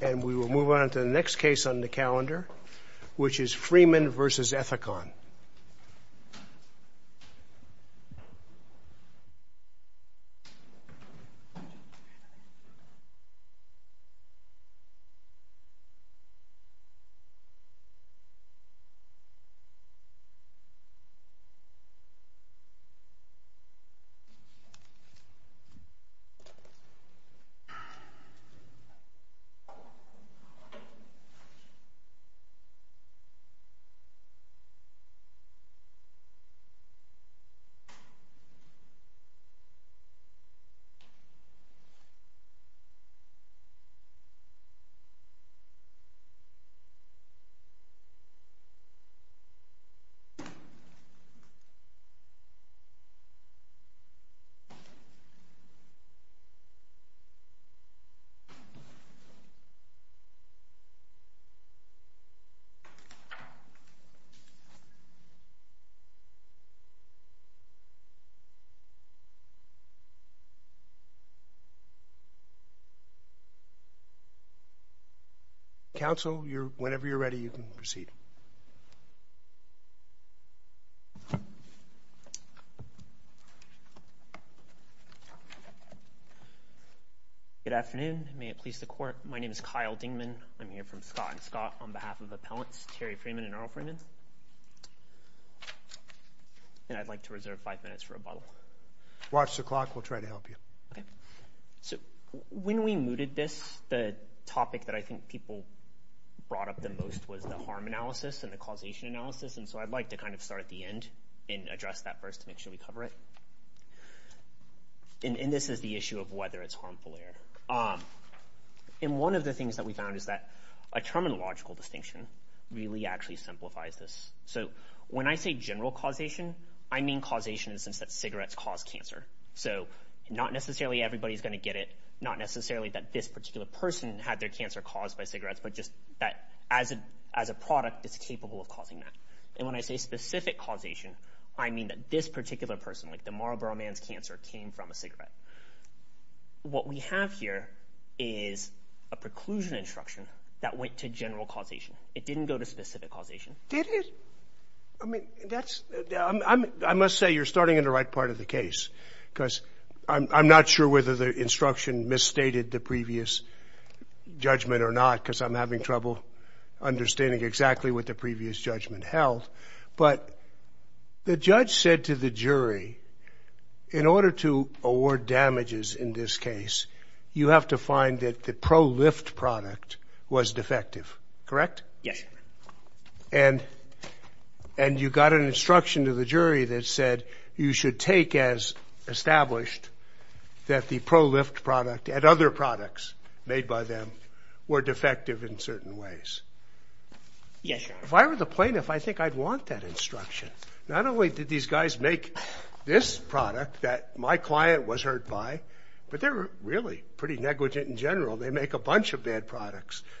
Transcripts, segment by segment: And we will move on to the next case on the calendar, which is Freeman v. Ethicon. And we will move on to the next case on the calendar, which is Freeman v. Ethicon. Counsel, whenever you're ready, you can proceed. Good afternoon. May it please the Court. My name is Kyle Dingman. I'm here from Scott & Scott on behalf of Appellants Terry Freeman and Earl Freeman. And I'd like to reserve five minutes for rebuttal. Watch the clock. We'll try to help you. So when we mooted this, the topic that I think people brought up the most was the harm analysis and the causation analysis. And so I'd like to kind of start at the end and address that first to make sure we cover it. And this is the issue of whether it's harmful air. And one of the things that we found is that a terminological distinction really actually simplifies this. So when I say general causation, I mean causation in the sense that cigarettes cause cancer. So not necessarily everybody's going to get it, not necessarily that this particular person had their cancer caused by cigarettes, but just that as a product, it's capable of causing that. And when I say specific causation, I mean that this particular person, like the Marlboro man's cancer, came from a cigarette. What we have here is a preclusion instruction that went to general causation. It didn't go to specific causation. Did it? I mean, that's, I must say you're starting in the right part of the case because I'm not sure whether the instruction misstated the previous judgment or not because I'm having trouble understanding exactly what the previous judgment held. But the judge said to the jury, in order to award damages in this case, you have to find that the pro-lift product was defective. Correct? Yes. And you got an instruction to the jury that said you should take as established that the pro-lift product and other products made by them were defective in certain ways. Yes, sir. If I were the plaintiff, I think I'd want that instruction. Not only did these guys make this product that my client was hurt by, but they're really pretty negligent in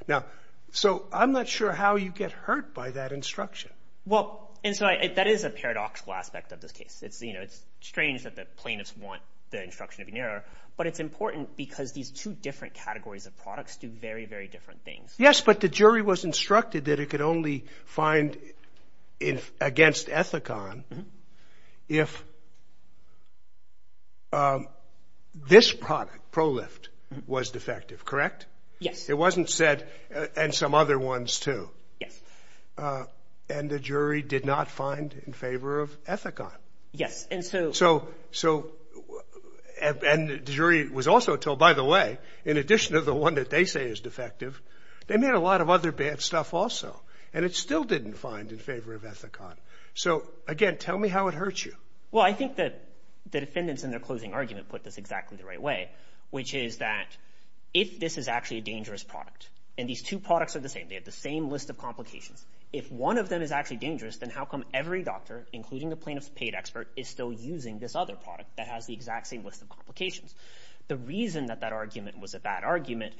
Now, so I'm not sure how you get hurt by that instruction. Well, and so that is a paradoxical aspect of this case. It's strange that the plaintiffs want the instruction to be narrow, but it's important because these two different categories of products do very, very different things. Yes, but the jury was instructed that it could only find against Ethicon if this product, pro-lift, was defective. Correct? Yes. It wasn't said, and some other ones too. Yes. And the jury did not find in favor of Ethicon. Yes, and so... So, and the jury was also told, by the way, in addition to the one that they say is defective, they made a lot of other bad stuff also, and it still didn't find in favor of Ethicon. So, again, tell me how it hurts you. Well, I think that the defendants in their closing argument put this exactly the right way, which is that if this is actually a dangerous product, and these two products are the same, they have the same list of complications, if one of them is actually dangerous, then how come every doctor, including the plaintiff's paid expert, is still using this other product that has the exact same list of complications? The reason that that argument was a bad argument,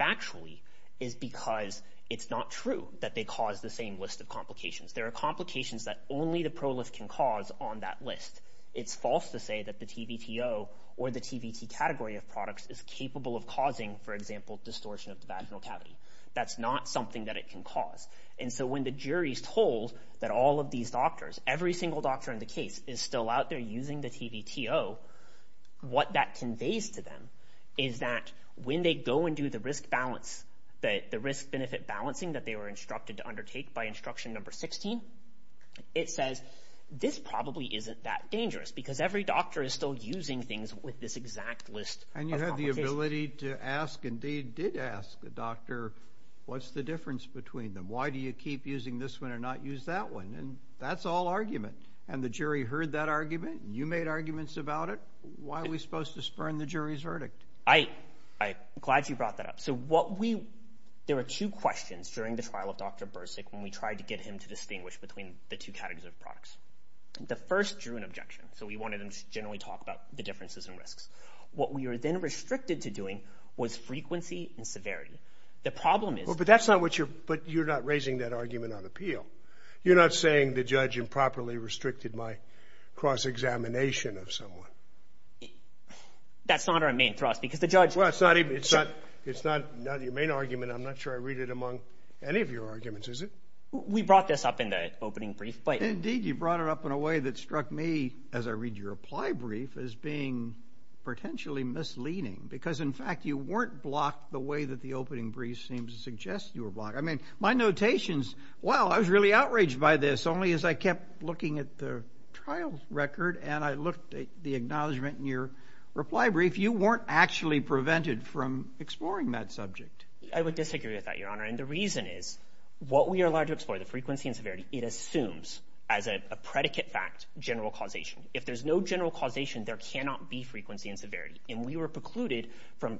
factually, is because it's not true that they cause the same list of complications. There are complications that only the pro-lift can cause on that list. It's false to say that the TVTO or the TVT category of products is capable of causing, for example, distortion of the vaginal cavity. That's not something that it can cause. And so when the jury's told that all of these doctors, every single doctor in the case, is still out there using the TVTO, what that conveys to them is that when they go and do the risk balance, the risk-benefit balancing that they were instructed to undertake by instruction number 16, it says, this probably isn't that dangerous, because every doctor is still using things with this exact list of complications. And you have the ability to ask, and they did ask the doctor, what's the difference between them? Why do you keep using this one and not use that one? And that's all argument. And the jury heard that argument, and you made arguments about it. Why are we supposed to spurn the jury's verdict? I'm glad you brought that up. There were two questions during the trial of Dr. Bursic when we tried to get him to distinguish between the two categories of products. The first drew an objection, so we wanted him to generally talk about the differences and risks. What we were then restricted to doing was frequency and severity. The problem is... But that's not what you're... But you're not raising that argument on appeal. You're not saying the judge improperly restricted my cross-examination of someone. That's not our main thrust, because the judge... Well, it's not... It's not your main argument. I'm not sure I read it among any of your arguments, is it? We brought this up in the opening brief, but... Indeed, you brought it up in a way that struck me, as I read your reply brief, as being potentially misleading. Because, in fact, you weren't blocked the way that the opening brief seems to suggest you were blocked. I mean, my notations... Well, I was really outraged by this, only as I kept looking at the trial record, and I looked at the acknowledgement in your reply brief. You weren't actually prevented from exploring that subject. I would disagree with that, Your Honor. And the reason is, what we are allowed to explore, the frequency and severity, it assumes, as a predicate fact, general causation. If there's no general causation, there cannot be frequency and severity. And we were precluded from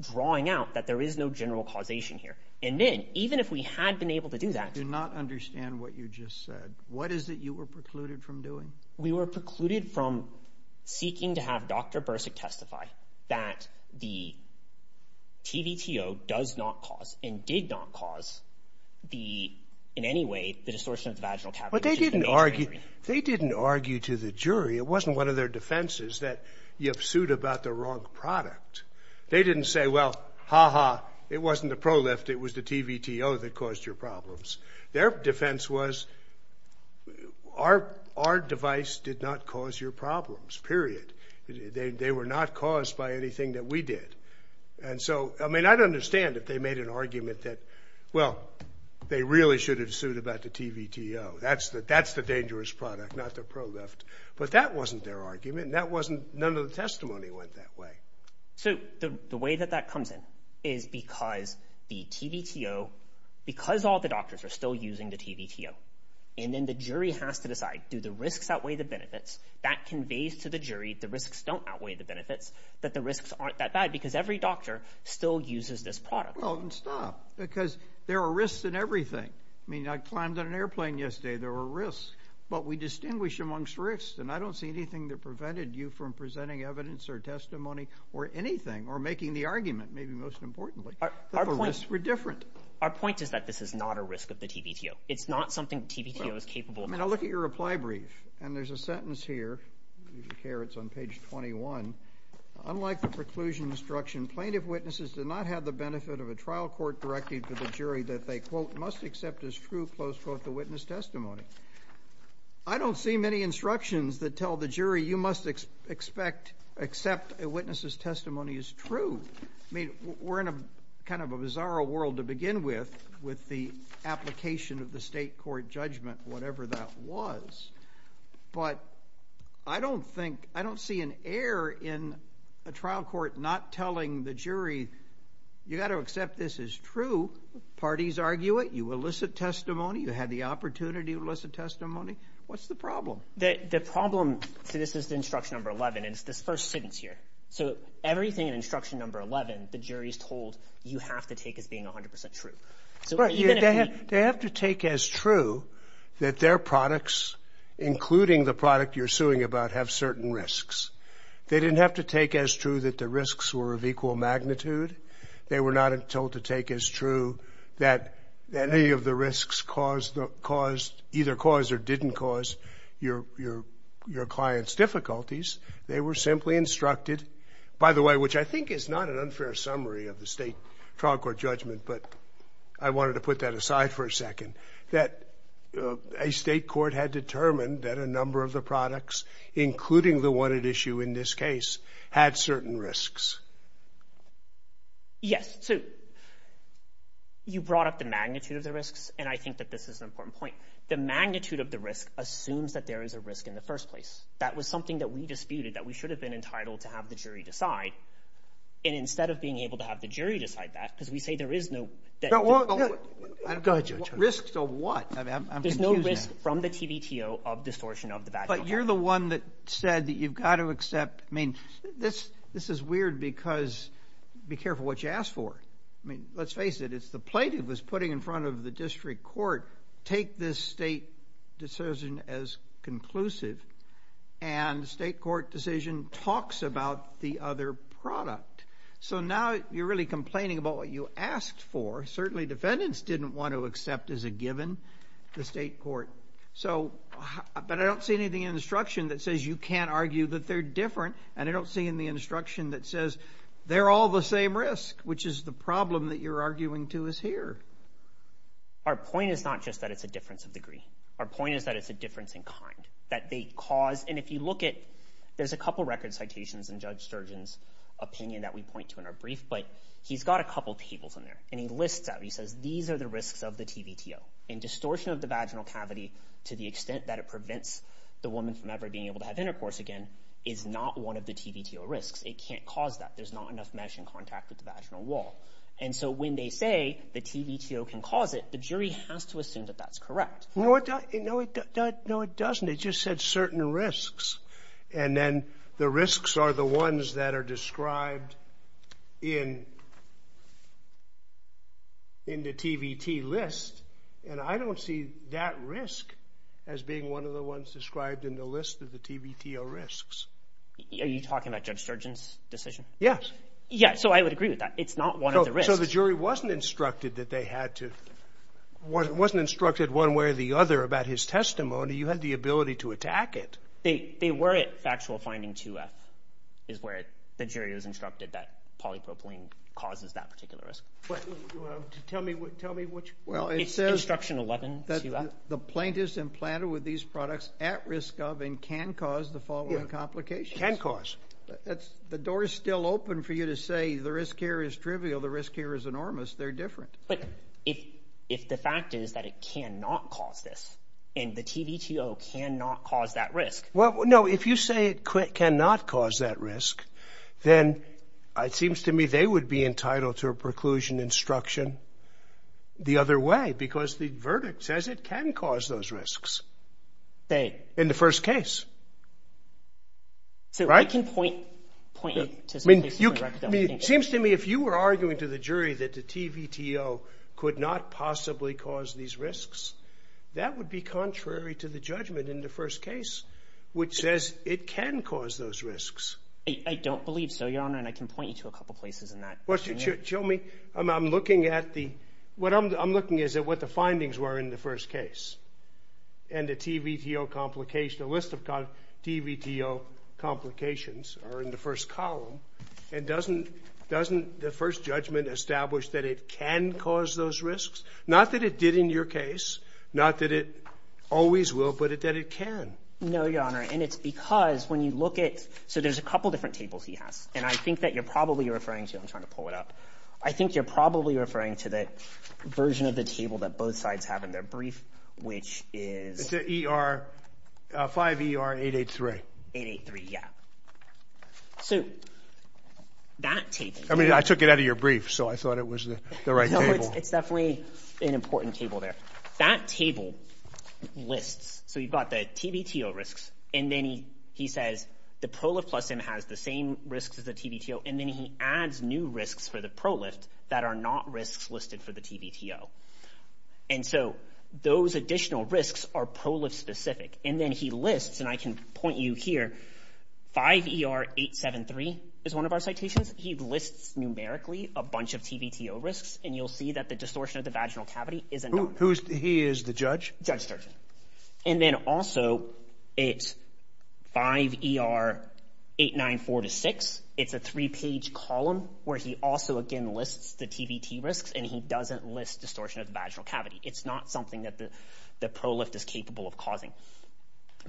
drawing out that there is no general causation here. And then, even if we had been able to do that... I do not understand what you just said. What is it you were precluded from doing? We were precluded from seeking to have Dr. Bursick testify that the TVTO does not cause and did not cause, in any way, the distortion of the vaginal cavity... But they didn't argue to the jury. It wasn't one of their defenses that you've sued about the wrong product. They didn't say, well, ha-ha, it wasn't the prolift, it was the TVTO that caused your problems. Their defense was, our device did not cause your problems, period. They were not caused by anything that we did. And so, I mean, I'd understand if they made an argument that, well, they really should have sued about the TVTO. That's the dangerous product, not the prolift. But that wasn't their argument, and none of the testimony went that way. So, the way that that comes in is because the TVTO, because all the doctors are still using the TVTO, and then the jury has to decide, do the risks outweigh the benefits? That conveys to the jury the risks don't outweigh the benefits, that the risks aren't that bad, because every doctor still uses this product. Well, then stop, because there are risks in everything. I mean, I climbed on an airplane yesterday. There were risks. But we distinguish amongst risks, and I don't see anything that prevented you from presenting evidence or testimony or anything or making the argument, maybe most importantly, that the risks were different. Our point is that this is not a risk of the TVTO. It's not something the TVTO is capable of. I mean, I'll look at your reply brief, and there's a sentence here. If you care, it's on page 21. Unlike the preclusion instruction, plaintiff witnesses did not have the benefit of a trial court directing to the jury that they, quote, must accept as true, close quote, the witness testimony. I don't see many instructions that tell the jury you must accept a witness's testimony as true. I mean, we're in kind of a bizarre world to begin with, with the application of the state court judgment, whatever that was. But I don't think, I don't see an error in a trial court not telling the jury, you've got to accept this as true. Parties argue it. You elicit testimony. You had the opportunity to elicit testimony. What's the problem? The problem, so this is instruction number 11, and it's this first sentence here. So everything in instruction number 11, the jury is told you have to take as being 100% true. They have to take as true that their products, including the product you're suing about, have certain risks. They didn't have to take as true that the risks were of equal magnitude. They were not told to take as true that any of the risks either caused or didn't cause your client's difficulties. They were simply instructed, by the way, which I think is not an unfair summary of the state trial court judgment, but I wanted to put that aside for a second, that a state court had determined that a number of the products, including the one at issue in this case, had certain risks. Yes. So you brought up the magnitude of the risks, and I think that this is an important point. The magnitude of the risk assumes that there is a risk in the first place. That was something that we disputed that we should have been entitled to have the jury decide, and instead of being able to have the jury decide that, because we say there is no risk. Go ahead, Judge. Risks of what? There's no risk from the TVTO of distortion of the value. But you're the one that said that you've got to accept. I mean, this is weird because be careful what you ask for. I mean, let's face it. It's the plaintiff that's putting in front of the district court, take this state decision as conclusive, and the state court decision talks about the other product. So now you're really complaining about what you asked for. Certainly defendants didn't want to accept as a given the state court. But I don't see anything in the instruction that says you can't argue that they're different, and I don't see in the instruction that says they're all the same risk, which is the problem that you're arguing to us here. Our point is not just that it's a difference of degree. Our point is that it's a difference in kind, that they cause. And if you look at, there's a couple record citations in Judge Sturgeon's opinion that we point to in our brief, but he's got a couple tables in there, and he lists out. He says these are the risks of the TVTO. And distortion of the vaginal cavity to the extent that it prevents the woman from ever being able to have intercourse again is not one of the TVTO risks. It can't cause that. There's not enough mesh in contact with the vaginal wall. And so when they say the TVTO can cause it, the jury has to assume that that's correct. No, it doesn't. It just said certain risks. And then the risks are the ones that are described in the TVT list, and I don't see that risk as being one of the ones described in the list of the TVTO risks. Are you talking about Judge Sturgeon's decision? Yes. Yeah, so I would agree with that. It's not one of the risks. So the jury wasn't instructed that they had to, wasn't instructed one way or the other about his testimony. You had the ability to attack it. They were at factual finding 2F is where the jury was instructed that polypropylene causes that particular risk. Tell me which one. It says instruction 11, 2F. The plaintiff's implanted with these products at risk of and can cause the following complications. Can cause. The door is still open for you to say the risk here is trivial, the risk here is enormous. They're different. But if the fact is that it cannot cause this and the TVTO cannot cause that risk. Well, no, if you say it cannot cause that risk, then it seems to me they would be entitled to a preclusion instruction the other way because the verdict says it can cause those risks. They. In the first case. So I can point to some places. Seems to me if you were arguing to the jury that the TVTO could not possibly cause these risks, that would be contrary to the judgment in the first case, which says it can cause those risks. I don't believe so, Your Honor. And I can point you to a couple of places in that. Well, tell me. I'm looking at the what I'm looking is at what the findings were in the first case. And the TVTO complication, a list of TVTO complications are in the first column. And doesn't the first judgment establish that it can cause those risks? Not that it did in your case. Not that it always will, but that it can. No, Your Honor. And it's because when you look at. So there's a couple different tables he has. And I think that you're probably referring to. I'm trying to pull it up. I think you're probably referring to the version of the table that both sides have in their brief, which is. It's a 5ER883. 883, yeah. So that table. I mean, I took it out of your brief, so I thought it was the right table. No, it's definitely an important table there. That table lists. So you've got the TVTO risks. And then he says the Prolif Plus Sim has the same risks as the TVTO. And then he adds new risks for the Prolif that are not risks listed for the TVTO. And so those additional risks are Prolif specific. And then he lists. And I can point you here. 5ER873 is one of our citations. He lists numerically a bunch of TVTO risks. And you'll see that the distortion of the vaginal cavity isn't known. He is the judge? Judge. And then also it's 5ER894-6. It's a three-page column where he also, again, lists the TVT risks. And he doesn't list distortion of the vaginal cavity. It's not something that the Prolif is capable of causing.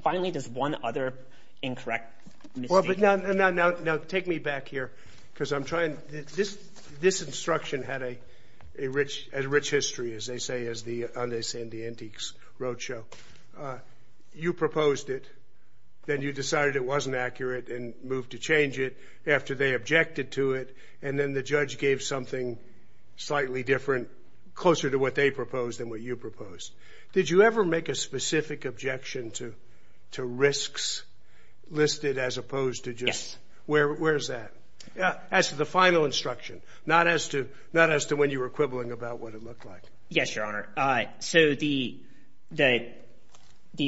Finally, there's one other incorrect misstatement. Well, but now take me back here because I'm trying. This instruction had a rich history, as they say in the Antiques Roadshow. You proposed it. Then you decided it wasn't accurate and moved to change it after they objected to it. And then the judge gave something slightly different, closer to what they proposed than what you proposed. Did you ever make a specific objection to risks listed as opposed to just? Yes. Where is that? As to the final instruction, not as to when you were quibbling about what it looked like. Yes, Your Honor. So the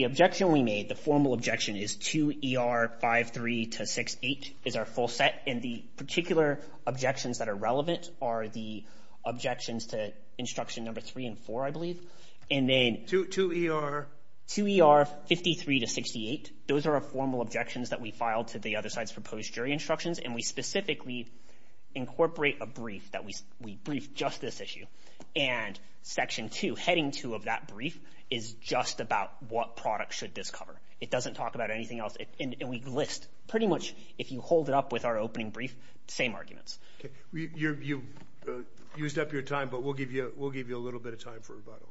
objection we made, the formal objection, is 2ER53-68 is our full set. And the particular objections that are relevant are the objections to instruction number three and four, I believe. And then 2ER53-68, those are our formal objections that we filed to the other side's proposed jury instructions. And we specifically incorporate a brief that we briefed just this issue. And Section 2, Heading 2 of that brief, is just about what product should this cover. It doesn't talk about anything else. And we list pretty much, if you hold it up with our opening brief, the same arguments. Okay. You used up your time, but we'll give you a little bit of time for rebuttal.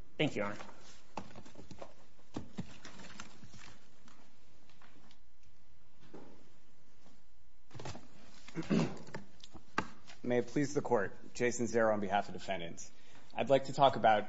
May it please the Court. Jason Zero on behalf of defendants. I'd like to talk about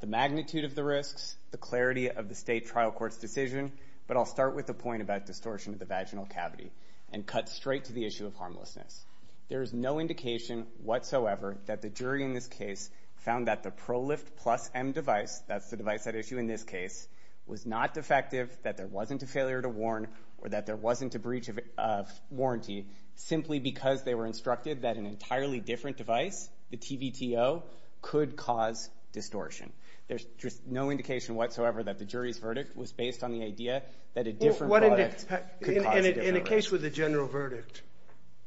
the magnitude of the risks, the clarity of the state trial court's decision, but I'll start with the point about distortion of the vaginal cavity and cut straight to the issue of harmlessness. There is no indication whatsoever that the jury in this case found that the ProLift Plus M device, that's the device at issue in this case, was not defective, that there wasn't a failure to warn, or that there wasn't a breach of warranty, simply because they were instructed that an entirely different device, the TVTO, could cause distortion. There's just no indication whatsoever that the jury's verdict was based on the idea that a different product could cause distortion. In a case with a general verdict,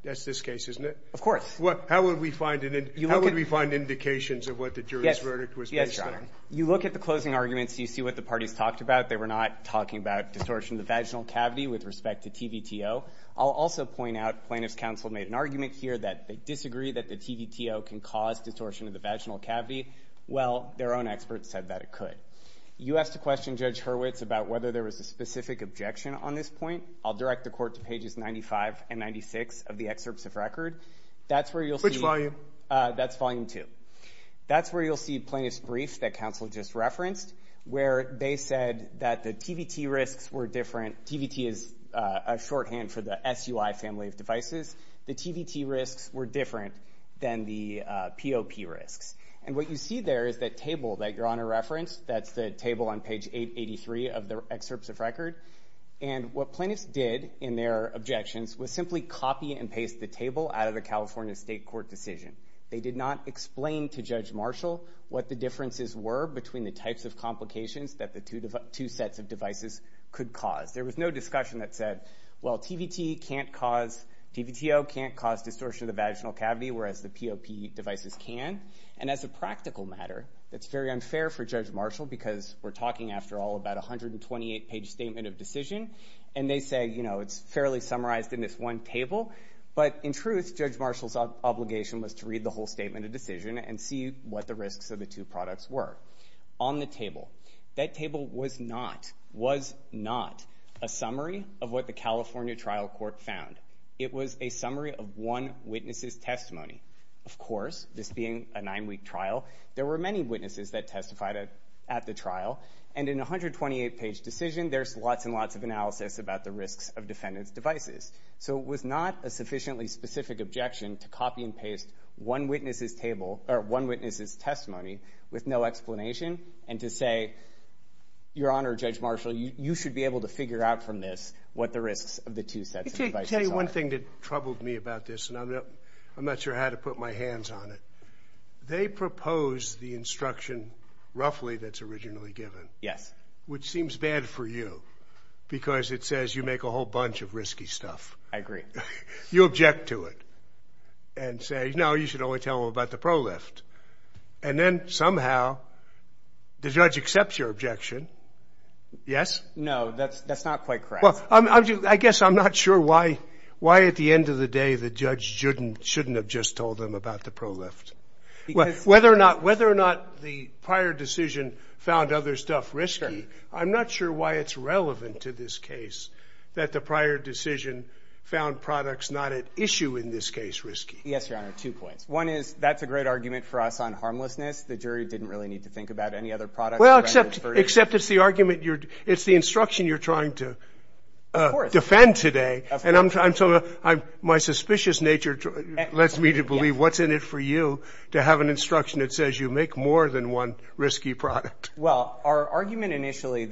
that's this case, isn't it? Of course. How would we find indications of what the jury's verdict was based on? Yes, Your Honor. You look at the closing arguments, you see what the parties talked about. They were not talking about distortion of the vaginal cavity with respect to TVTO. I'll also point out plaintiff's counsel made an argument here that they disagree that the TVTO can cause distortion of the vaginal cavity. Well, their own experts said that it could. You asked a question, Judge Hurwitz, about whether there was a specific objection on this point. I'll direct the court to pages 95 and 96 of the excerpts of record. That's where you'll see- Which volume? That's volume two. That's where you'll see plaintiff's brief that counsel just referenced, where they said that the TVT risks were different. TVT is a shorthand for the SUI family of devices. The TVT risks were different than the POP risks. And what you see there is that table that Your Honor referenced. That's the table on page 883 of the excerpts of record. And what plaintiffs did in their objections was simply copy and paste the table out of the California State Court decision. They did not explain to Judge Marshall what the differences were between the types of complications that the two sets of devices could cause. There was no discussion that said, well, TVT can't cause- TVTO can't cause distortion of the vaginal cavity, whereas the POP devices can. And as a practical matter, that's very unfair for Judge Marshall because we're talking, after all, about a 128-page statement of decision. And they say, you know, it's fairly summarized in this one table. But in truth, Judge Marshall's obligation was to read the whole statement of decision and see what the risks of the two products were. On the table, that table was not a summary of what the California trial court found. It was a summary of one witness's testimony. Of course, this being a nine-week trial, there were many witnesses that testified at the trial. And in a 128-page decision, there's lots and lots of analysis about the risks of defendant's devices. So it was not a sufficiently specific objection to copy and paste one witness's testimony with no explanation and to say, Your Honor, Judge Marshall, you should be able to figure out from this what the risks of the two sets of devices are. Let me tell you one thing that troubled me about this, and I'm not sure how to put my hands on it. They proposed the instruction, roughly, that's originally given. Yes. Which seems bad for you, because it says you make a whole bunch of risky stuff. I agree. You object to it and say, no, you should only tell them about the ProLift. And then somehow the judge accepts your objection. Yes? No, that's not quite correct. Well, I guess I'm not sure why at the end of the day the judge shouldn't have just told them about the ProLift. Whether or not the prior decision found other stuff risky, I'm not sure why it's relevant to this case that the prior decision found products not at issue in this case risky. Yes, Your Honor, two points. One is that's a great argument for us on harmlessness. The jury didn't really need to think about any other products. Well, except it's the argument you're – it's the instruction you're trying to defend today. Of course. And so my suspicious nature lets me to believe what's in it for you to have an instruction that says you make more than one risky product. Well, our argument initially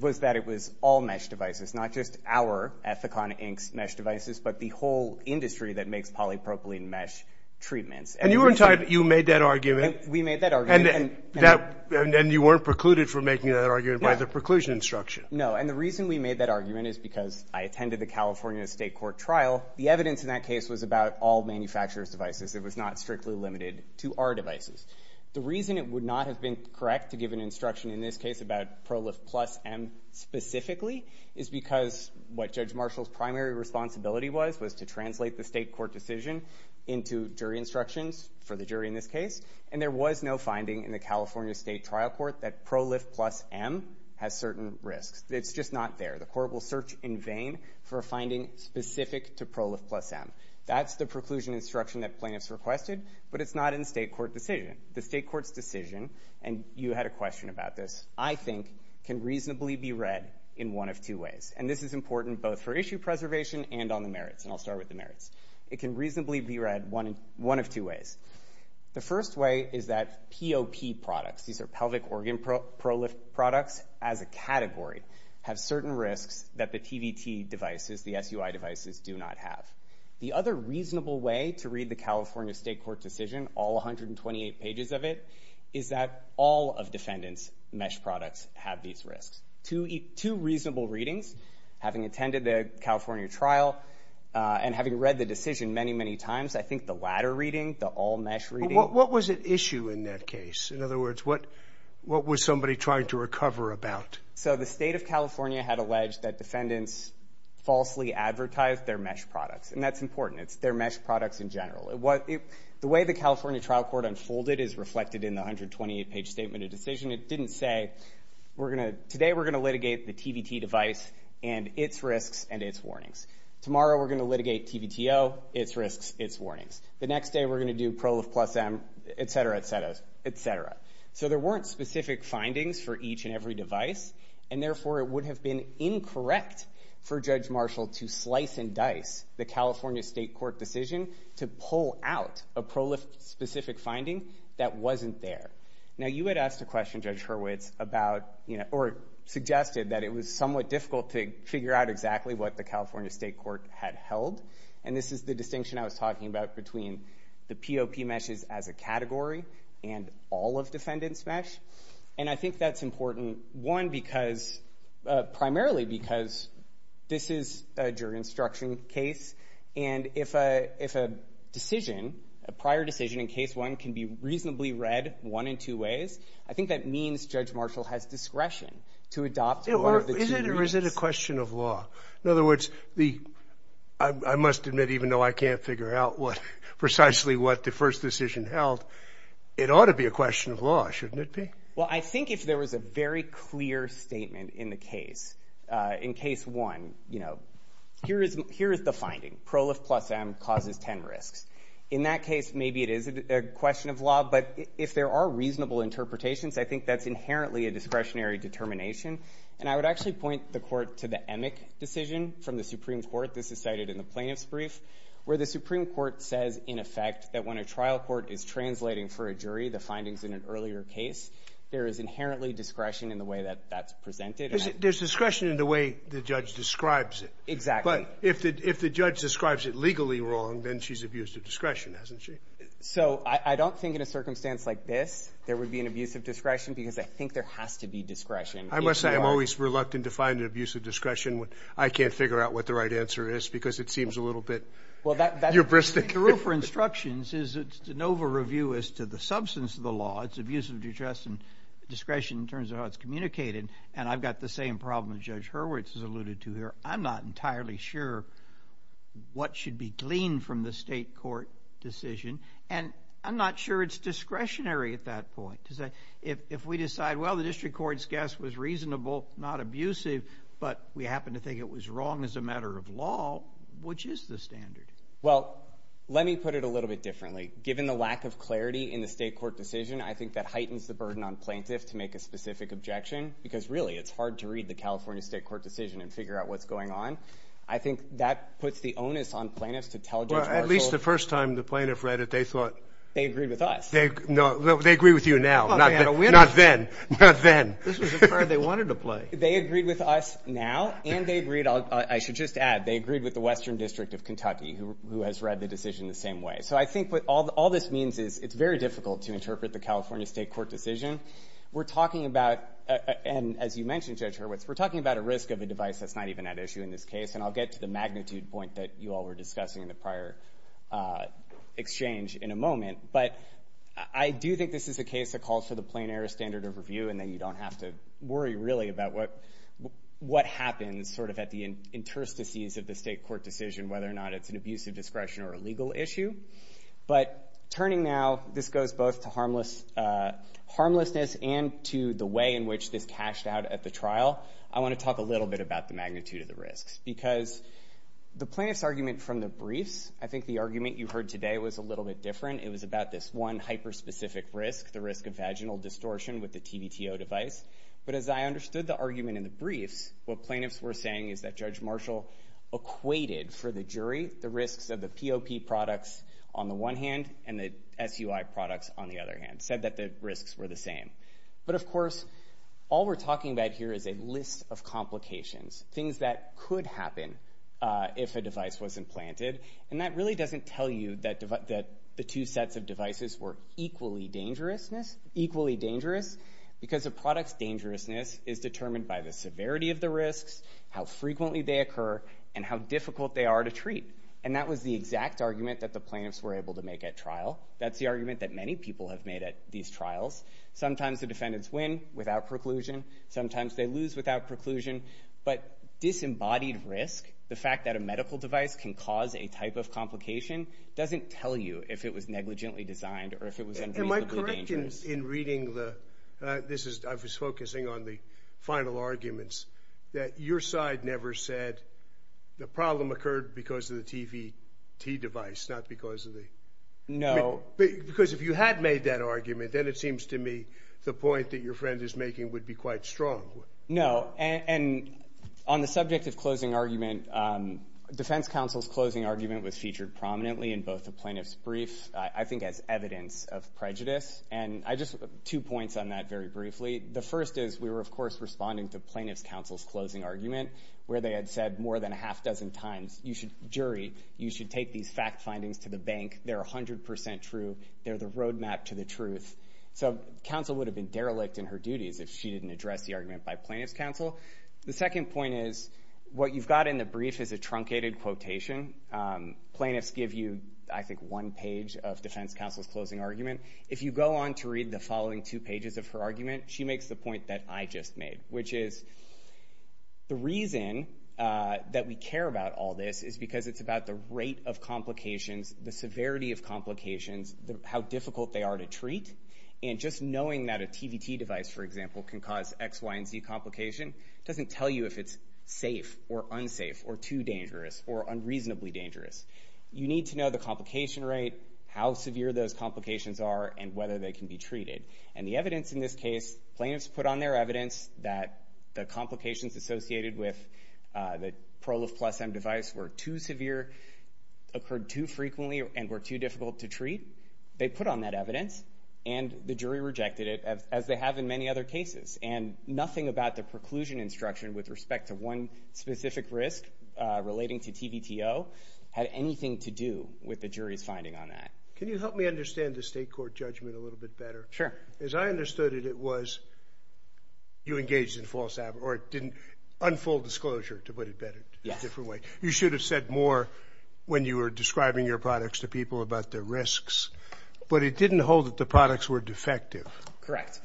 was that it was all mesh devices, not just our Ethicon Inc.'s mesh devices, but the whole industry that makes polypropylene mesh treatments. And you were entitled – you made that argument? We made that argument. And you weren't precluded from making that argument by the preclusion instruction? No. And the reason we made that argument is because I attended the California State Court trial. The evidence in that case was about all manufacturer's devices. It was not strictly limited to our devices. The reason it would not have been correct to give an instruction in this case about ProLift Plus M specifically is because what Judge Marshall's primary responsibility was was to translate the state court decision into jury instructions for the jury in this case, and there was no finding in the California State Trial Court that ProLift Plus M has certain risks. It's just not there. The court will search in vain for a finding specific to ProLift Plus M. That's the preclusion instruction that plaintiffs requested, but it's not in the state court decision. The state court's decision – and you had a question about this – I think can reasonably be read in one of two ways. And this is important both for issue preservation and on the merits. And I'll start with the merits. It can reasonably be read one of two ways. The first way is that POP products – these are pelvic organ ProLift products as a category – have certain risks that the TVT devices, the SUI devices, do not have. The other reasonable way to read the California state court decision, all 128 pages of it, is that all of defendant's mesh products have these risks. Two reasonable readings, having attended the California trial and having read the decision many, many times, I think the latter reading, the all-mesh reading. But what was at issue in that case? In other words, what was somebody trying to recover about? So the state of California had alleged that defendants falsely advertised their mesh products. And that's important. It's their mesh products in general. The way the California trial court unfolded is reflected in the 128-page statement of decision. It didn't say, today we're going to litigate the TVT device and its risks and its warnings. Tomorrow we're going to litigate TVTO, its risks, its warnings. The next day we're going to do ProLift Plus M, et cetera, et cetera, et cetera. So there weren't specific findings for each and every device, and therefore it would have been incorrect for Judge Marshall to slice and dice the California state court decision to pull out a ProLift-specific finding that wasn't there. Now you had asked a question, Judge Hurwitz, about – or suggested that it was somewhat difficult to figure out exactly what the California state court had held. And this is the distinction I was talking about between the POP meshes as a category and all of defendant's mesh. And I think that's important, one, because – primarily because this is a jury instruction case. And if a decision, a prior decision in case one can be reasonably read one in two ways, I think that means Judge Marshall has discretion to adopt one of the two. Is it or is it a question of law? In other words, I must admit, even though I can't figure out precisely what the first decision held, it ought to be a question of law, shouldn't it be? Well, I think if there was a very clear statement in the case, in case one, you know, here is the finding. ProLift Plus M causes 10 risks. In that case, maybe it is a question of law, but if there are reasonable interpretations, I think that's inherently a discretionary determination. And I would actually point the court to the Emick decision from the Supreme Court. This is cited in the plaintiff's brief where the Supreme Court says, in effect, that when a trial court is translating for a jury the findings in an earlier case, there is inherently discretion in the way that that's presented. There's discretion in the way the judge describes it. Exactly. But if the judge describes it legally wrong, then she's abused her discretion, hasn't she? So I don't think in a circumstance like this there would be an abuse of discretion because I think there has to be discretion. I must say I'm always reluctant to find an abuse of discretion. I can't figure out what the right answer is because it seems a little bit hubristic. The rule for instructions is it's an over-review as to the substance of the law. It's abuse of discretion in terms of how it's communicated, and I've got the same problem that Judge Hurwitz has alluded to here. I'm not entirely sure what should be gleaned from the state court decision, and I'm not sure it's discretionary at that point. If we decide, well, the district court's guess was reasonable, not abusive, but we happen to think it was wrong as a matter of law, which is the standard? Well, let me put it a little bit differently. Given the lack of clarity in the state court decision, I think that heightens the burden on plaintiffs to make a specific objection because really it's hard to read the California state court decision and figure out what's going on. I think that puts the onus on plaintiffs to tell Judge Marshall. Well, at least the first time the plaintiff read it they thought... They agreed with us. No, they agree with you now, not then. This was a card they wanted to play. They agreed with us now, and they agreed, I should just add, they agreed with the Western District of Kentucky, who has read the decision the same way. So I think what all this means is it's very difficult to interpret the California state court decision. We're talking about, and as you mentioned, Judge Hurwitz, we're talking about a risk of a device that's not even at issue in this case, and I'll get to the magnitude point that you all were discussing in the prior exchange in a moment. But I do think this is a case that calls for the plain error standard of review and that you don't have to worry really about what happens sort of at the interstices of the state court decision, whether or not it's an abuse of discretion or a legal issue. But turning now, this goes both to harmlessness and to the way in which this cashed out at the trial. I want to talk a little bit about the magnitude of the risks because the plaintiff's argument from the briefs, I think the argument you heard today was a little bit different. It was about this one hyper-specific risk, the risk of vaginal distortion with the TVTO device. But as I understood the argument in the briefs, what plaintiffs were saying is that Judge Marshall equated for the jury the risks of the POP products on the one hand and the SUI products on the other hand, said that the risks were the same. But of course, all we're talking about here is a list of complications, things that could happen if a device wasn't planted, and that really doesn't tell you that the two sets of devices were equally dangerous because a product's dangerousness is determined by the severity of the risks, how frequently they occur, and how difficult they are to treat. And that was the exact argument that the plaintiffs were able to make at trial. That's the argument that many people have made at these trials. Sometimes the defendants win without preclusion. Sometimes they lose without preclusion. But disembodied risk, the fact that a medical device can cause a type of complication, doesn't tell you if it was negligently designed or if it was unreasonably dangerous. Am I correct in reading the... I was focusing on the final arguments, that your side never said the problem occurred because of the TVT device, not because of the... No. Because if you had made that argument, then it seems to me the point that your friend is making would be quite strong. No, and on the subject of closing argument, defense counsel's closing argument was featured prominently in both the plaintiff's brief, I think, as evidence of prejudice. And I just... two points on that very briefly. The first is we were, of course, responding to plaintiff's counsel's closing argument, where they had said more than a half dozen times, you should... jury, you should take these fact findings to the bank. They're 100% true. They're the roadmap to the truth. So counsel would have been derelict in her duties if she didn't address the argument by plaintiff's counsel. The second point is what you've got in the brief is a truncated quotation. Plaintiffs give you, I think, one page of defense counsel's closing argument. If you go on to read the following two pages of her argument, she makes the point that I just made, which is the reason that we care about all this is because it's about the rate of complications, the severity of complications, how difficult they are to treat. And just knowing that a TVT device, for example, can cause X, Y, and Z complication doesn't tell you if it's safe or unsafe or too dangerous or unreasonably dangerous. You need to know the complication rate, how severe those complications are, and whether they can be treated. And the evidence in this case, plaintiffs put on their evidence that the complications associated with the Prolif Plus M device were too severe, occurred too frequently, and were too difficult to treat. They put on that evidence, and the jury rejected it, as they have in many other cases. And nothing about the preclusion instruction with respect to one specific risk relating to TVTO had anything to do with the jury's finding on that. Can you help me understand the state court judgment a little bit better? Sure. As I understood it, it was you engaged in false advertising, or it didn't unfold disclosure, to put it better, a different way. You should have said more when you were describing your products to people about the risks. But it didn't hold that the products were defective. Correct.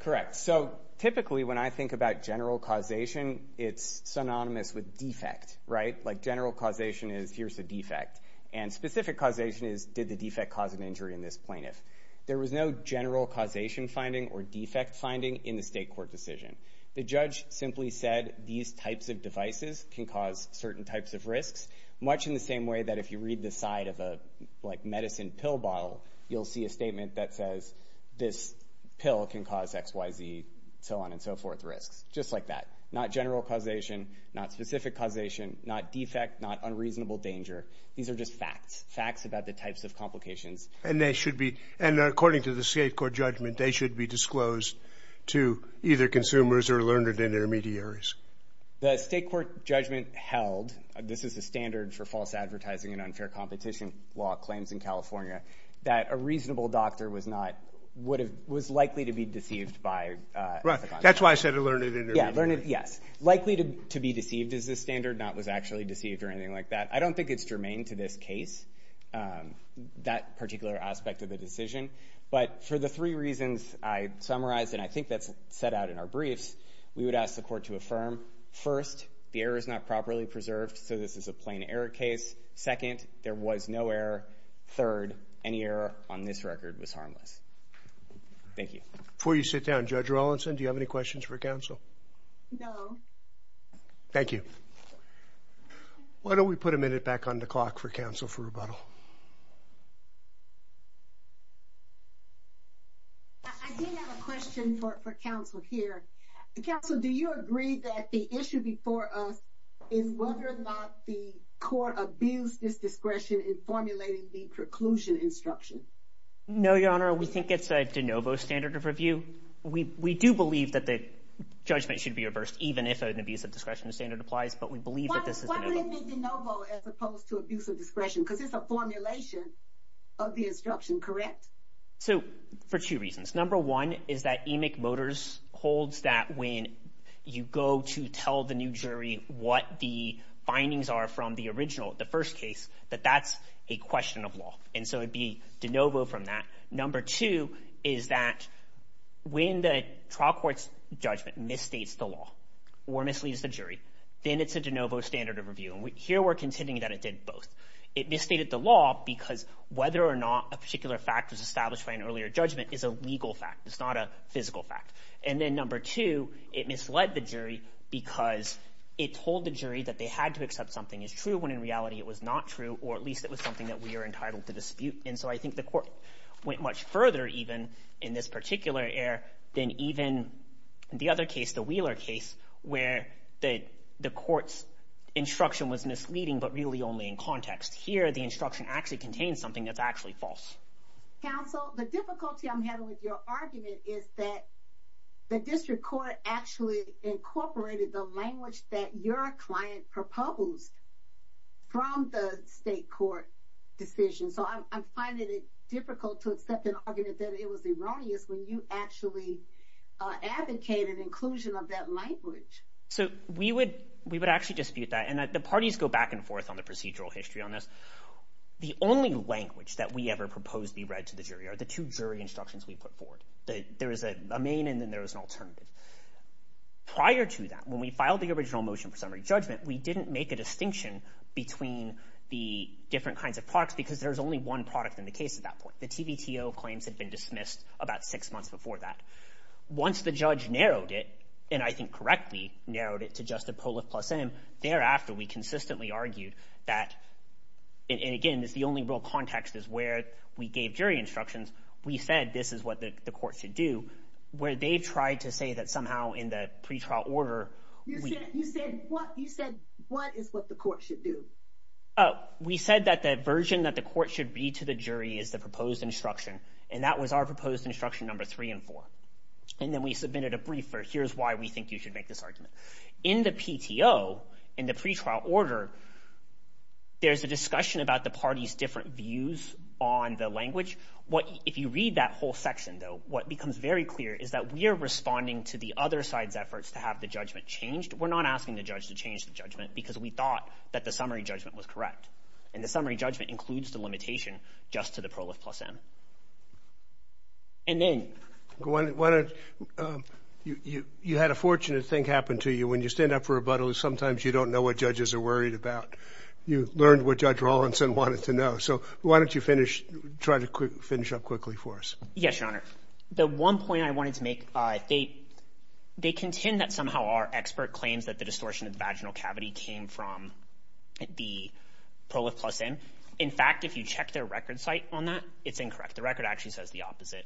Correct. So, typically, when I think about general causation, it's synonymous with defect, right? Like, general causation is, here's a defect. And specific causation is, did the defect cause an injury in this plaintiff? There was no general causation finding or defect finding in the state court decision. The judge simply said, these types of devices can cause certain types of risks, much in the same way that if you read the side of a, like, medicine pill bottle, you'll see a statement that says, this pill can cause X, Y, Z, so on and so forth risks. Just like that. Not general causation, not specific causation, not defect, not unreasonable danger. These are just facts, facts about the types of complications. And they should be, and according to the state court judgment, they should be disclosed to either consumers or learned intermediaries. The state court judgment held, this is the standard for false advertising and unfair competition law claims in California, that a reasonable doctor was not, was likely to be deceived by. Right, that's why I said a learned intermediary. Yeah, learned, yes. Likely to be deceived is the standard, not was actually deceived or anything like that. I don't think it's germane to this case, that particular aspect of the decision. But for the three reasons I summarized, and I think that's set out in our briefs, we would ask the court to affirm, first, the error is not properly preserved, so this is a plain error case. Second, there was no error. Third, any error on this record was harmless. Thank you. Before you sit down, Judge Rawlinson, do you have any questions for counsel? No. Thank you. Why don't we put a minute back on the clock for counsel for rebuttal. I do have a question for counsel here. Counsel, do you agree that the issue before us is whether or not the court abused this discretion in formulating the preclusion instruction? No, Your Honor. We think it's a de novo standard of review. We do believe that the judgment should be reversed, even if an abuse of discretion standard applies, but we believe that this is de novo. Why would it be de novo as opposed to abuse of discretion? Because it's a formulation of the instruction, correct? So, for two reasons. Number one is that Emick Motors holds that when you go to tell the new jury what the findings are from the original, the first case, that that's a question of law. And so it would be de novo from that. Number two is that when the trial court's judgment misstates the law or misleads the jury, then it's a de novo standard of review. And here we're contending that it did both. It misstated the law because whether or not a particular fact was established by an earlier judgment is a legal fact. It's not a physical fact. And then number two, it misled the jury because it told the jury that they had to accept something is true when in reality it was not true, or at least it was something that we are entitled to dispute. And so I think the court went much further, even in this particular error, than even the other case, the Wheeler case, where the court's instruction was misleading, but really only in context. Here, the instruction actually contains something that's actually false. Counsel, the difficulty I'm having with your argument is that the district court actually incorporated the language that your client proposed from the state court decision. So I'm finding it difficult to accept an argument that it was erroneous when you actually advocated inclusion of that language. So we would actually dispute that. And the parties go back and forth on the procedural history on this. The only language that we ever proposed be read to the jury are the two jury instructions we put forward. There is a main and then there is an alternative. Prior to that, when we filed the original motion for summary judgment, we didn't make a distinction between the different kinds of products because there's only one product in the case at that point. The TVTO claims had been dismissed about six months before that. Once the judge narrowed it, and I think correctly narrowed it to just a poll of plus M, thereafter, we consistently argued that, and again, this is the only real context is where we gave jury instructions. We said this is what the court should do, where they've tried to say that somehow in the pretrial order... You said what? You said what is what the court should do? Oh, we said that the version that the court should read to the jury is the proposed instruction, and that was our proposed instruction number three and four. And then we submitted a brief for here's why we think you should make this argument. In the PTO, in the pretrial order, there's a discussion about the parties' different views on the language. If you read that whole section, though, what becomes very clear is that we are responding to the other side's efforts to have the judgment changed. We're not asking the judge to change the judgment because we thought that the summary judgment was correct, and the summary judgment includes the limitation just to the prolif plus M. And then... Why don't... You had a fortunate thing happen to you. When you stand up for rebuttal, sometimes you don't know what judges are worried about. You learned what Judge Rawlinson wanted to know. So why don't you try to finish up quickly for us? Yes, Your Honor. The one point I wanted to make, they contend that somehow our expert claims that the distortion of the vaginal cavity came from the prolif plus M. In fact, if you check their record site on that, it's incorrect. The record actually says the opposite.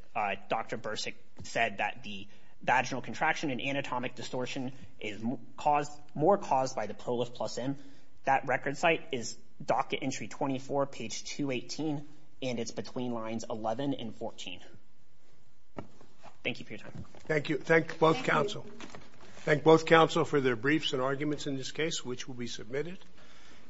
Dr. Bursick said that the vaginal contraction and anatomic distortion is more caused by the prolif plus M. That record site is docket entry 24, page 218, and it's between lines 11 and 14. Thank you for your time. Thank you. Thank both counsel. Thank both counsel for their briefs and arguments in this case, which will be submitted.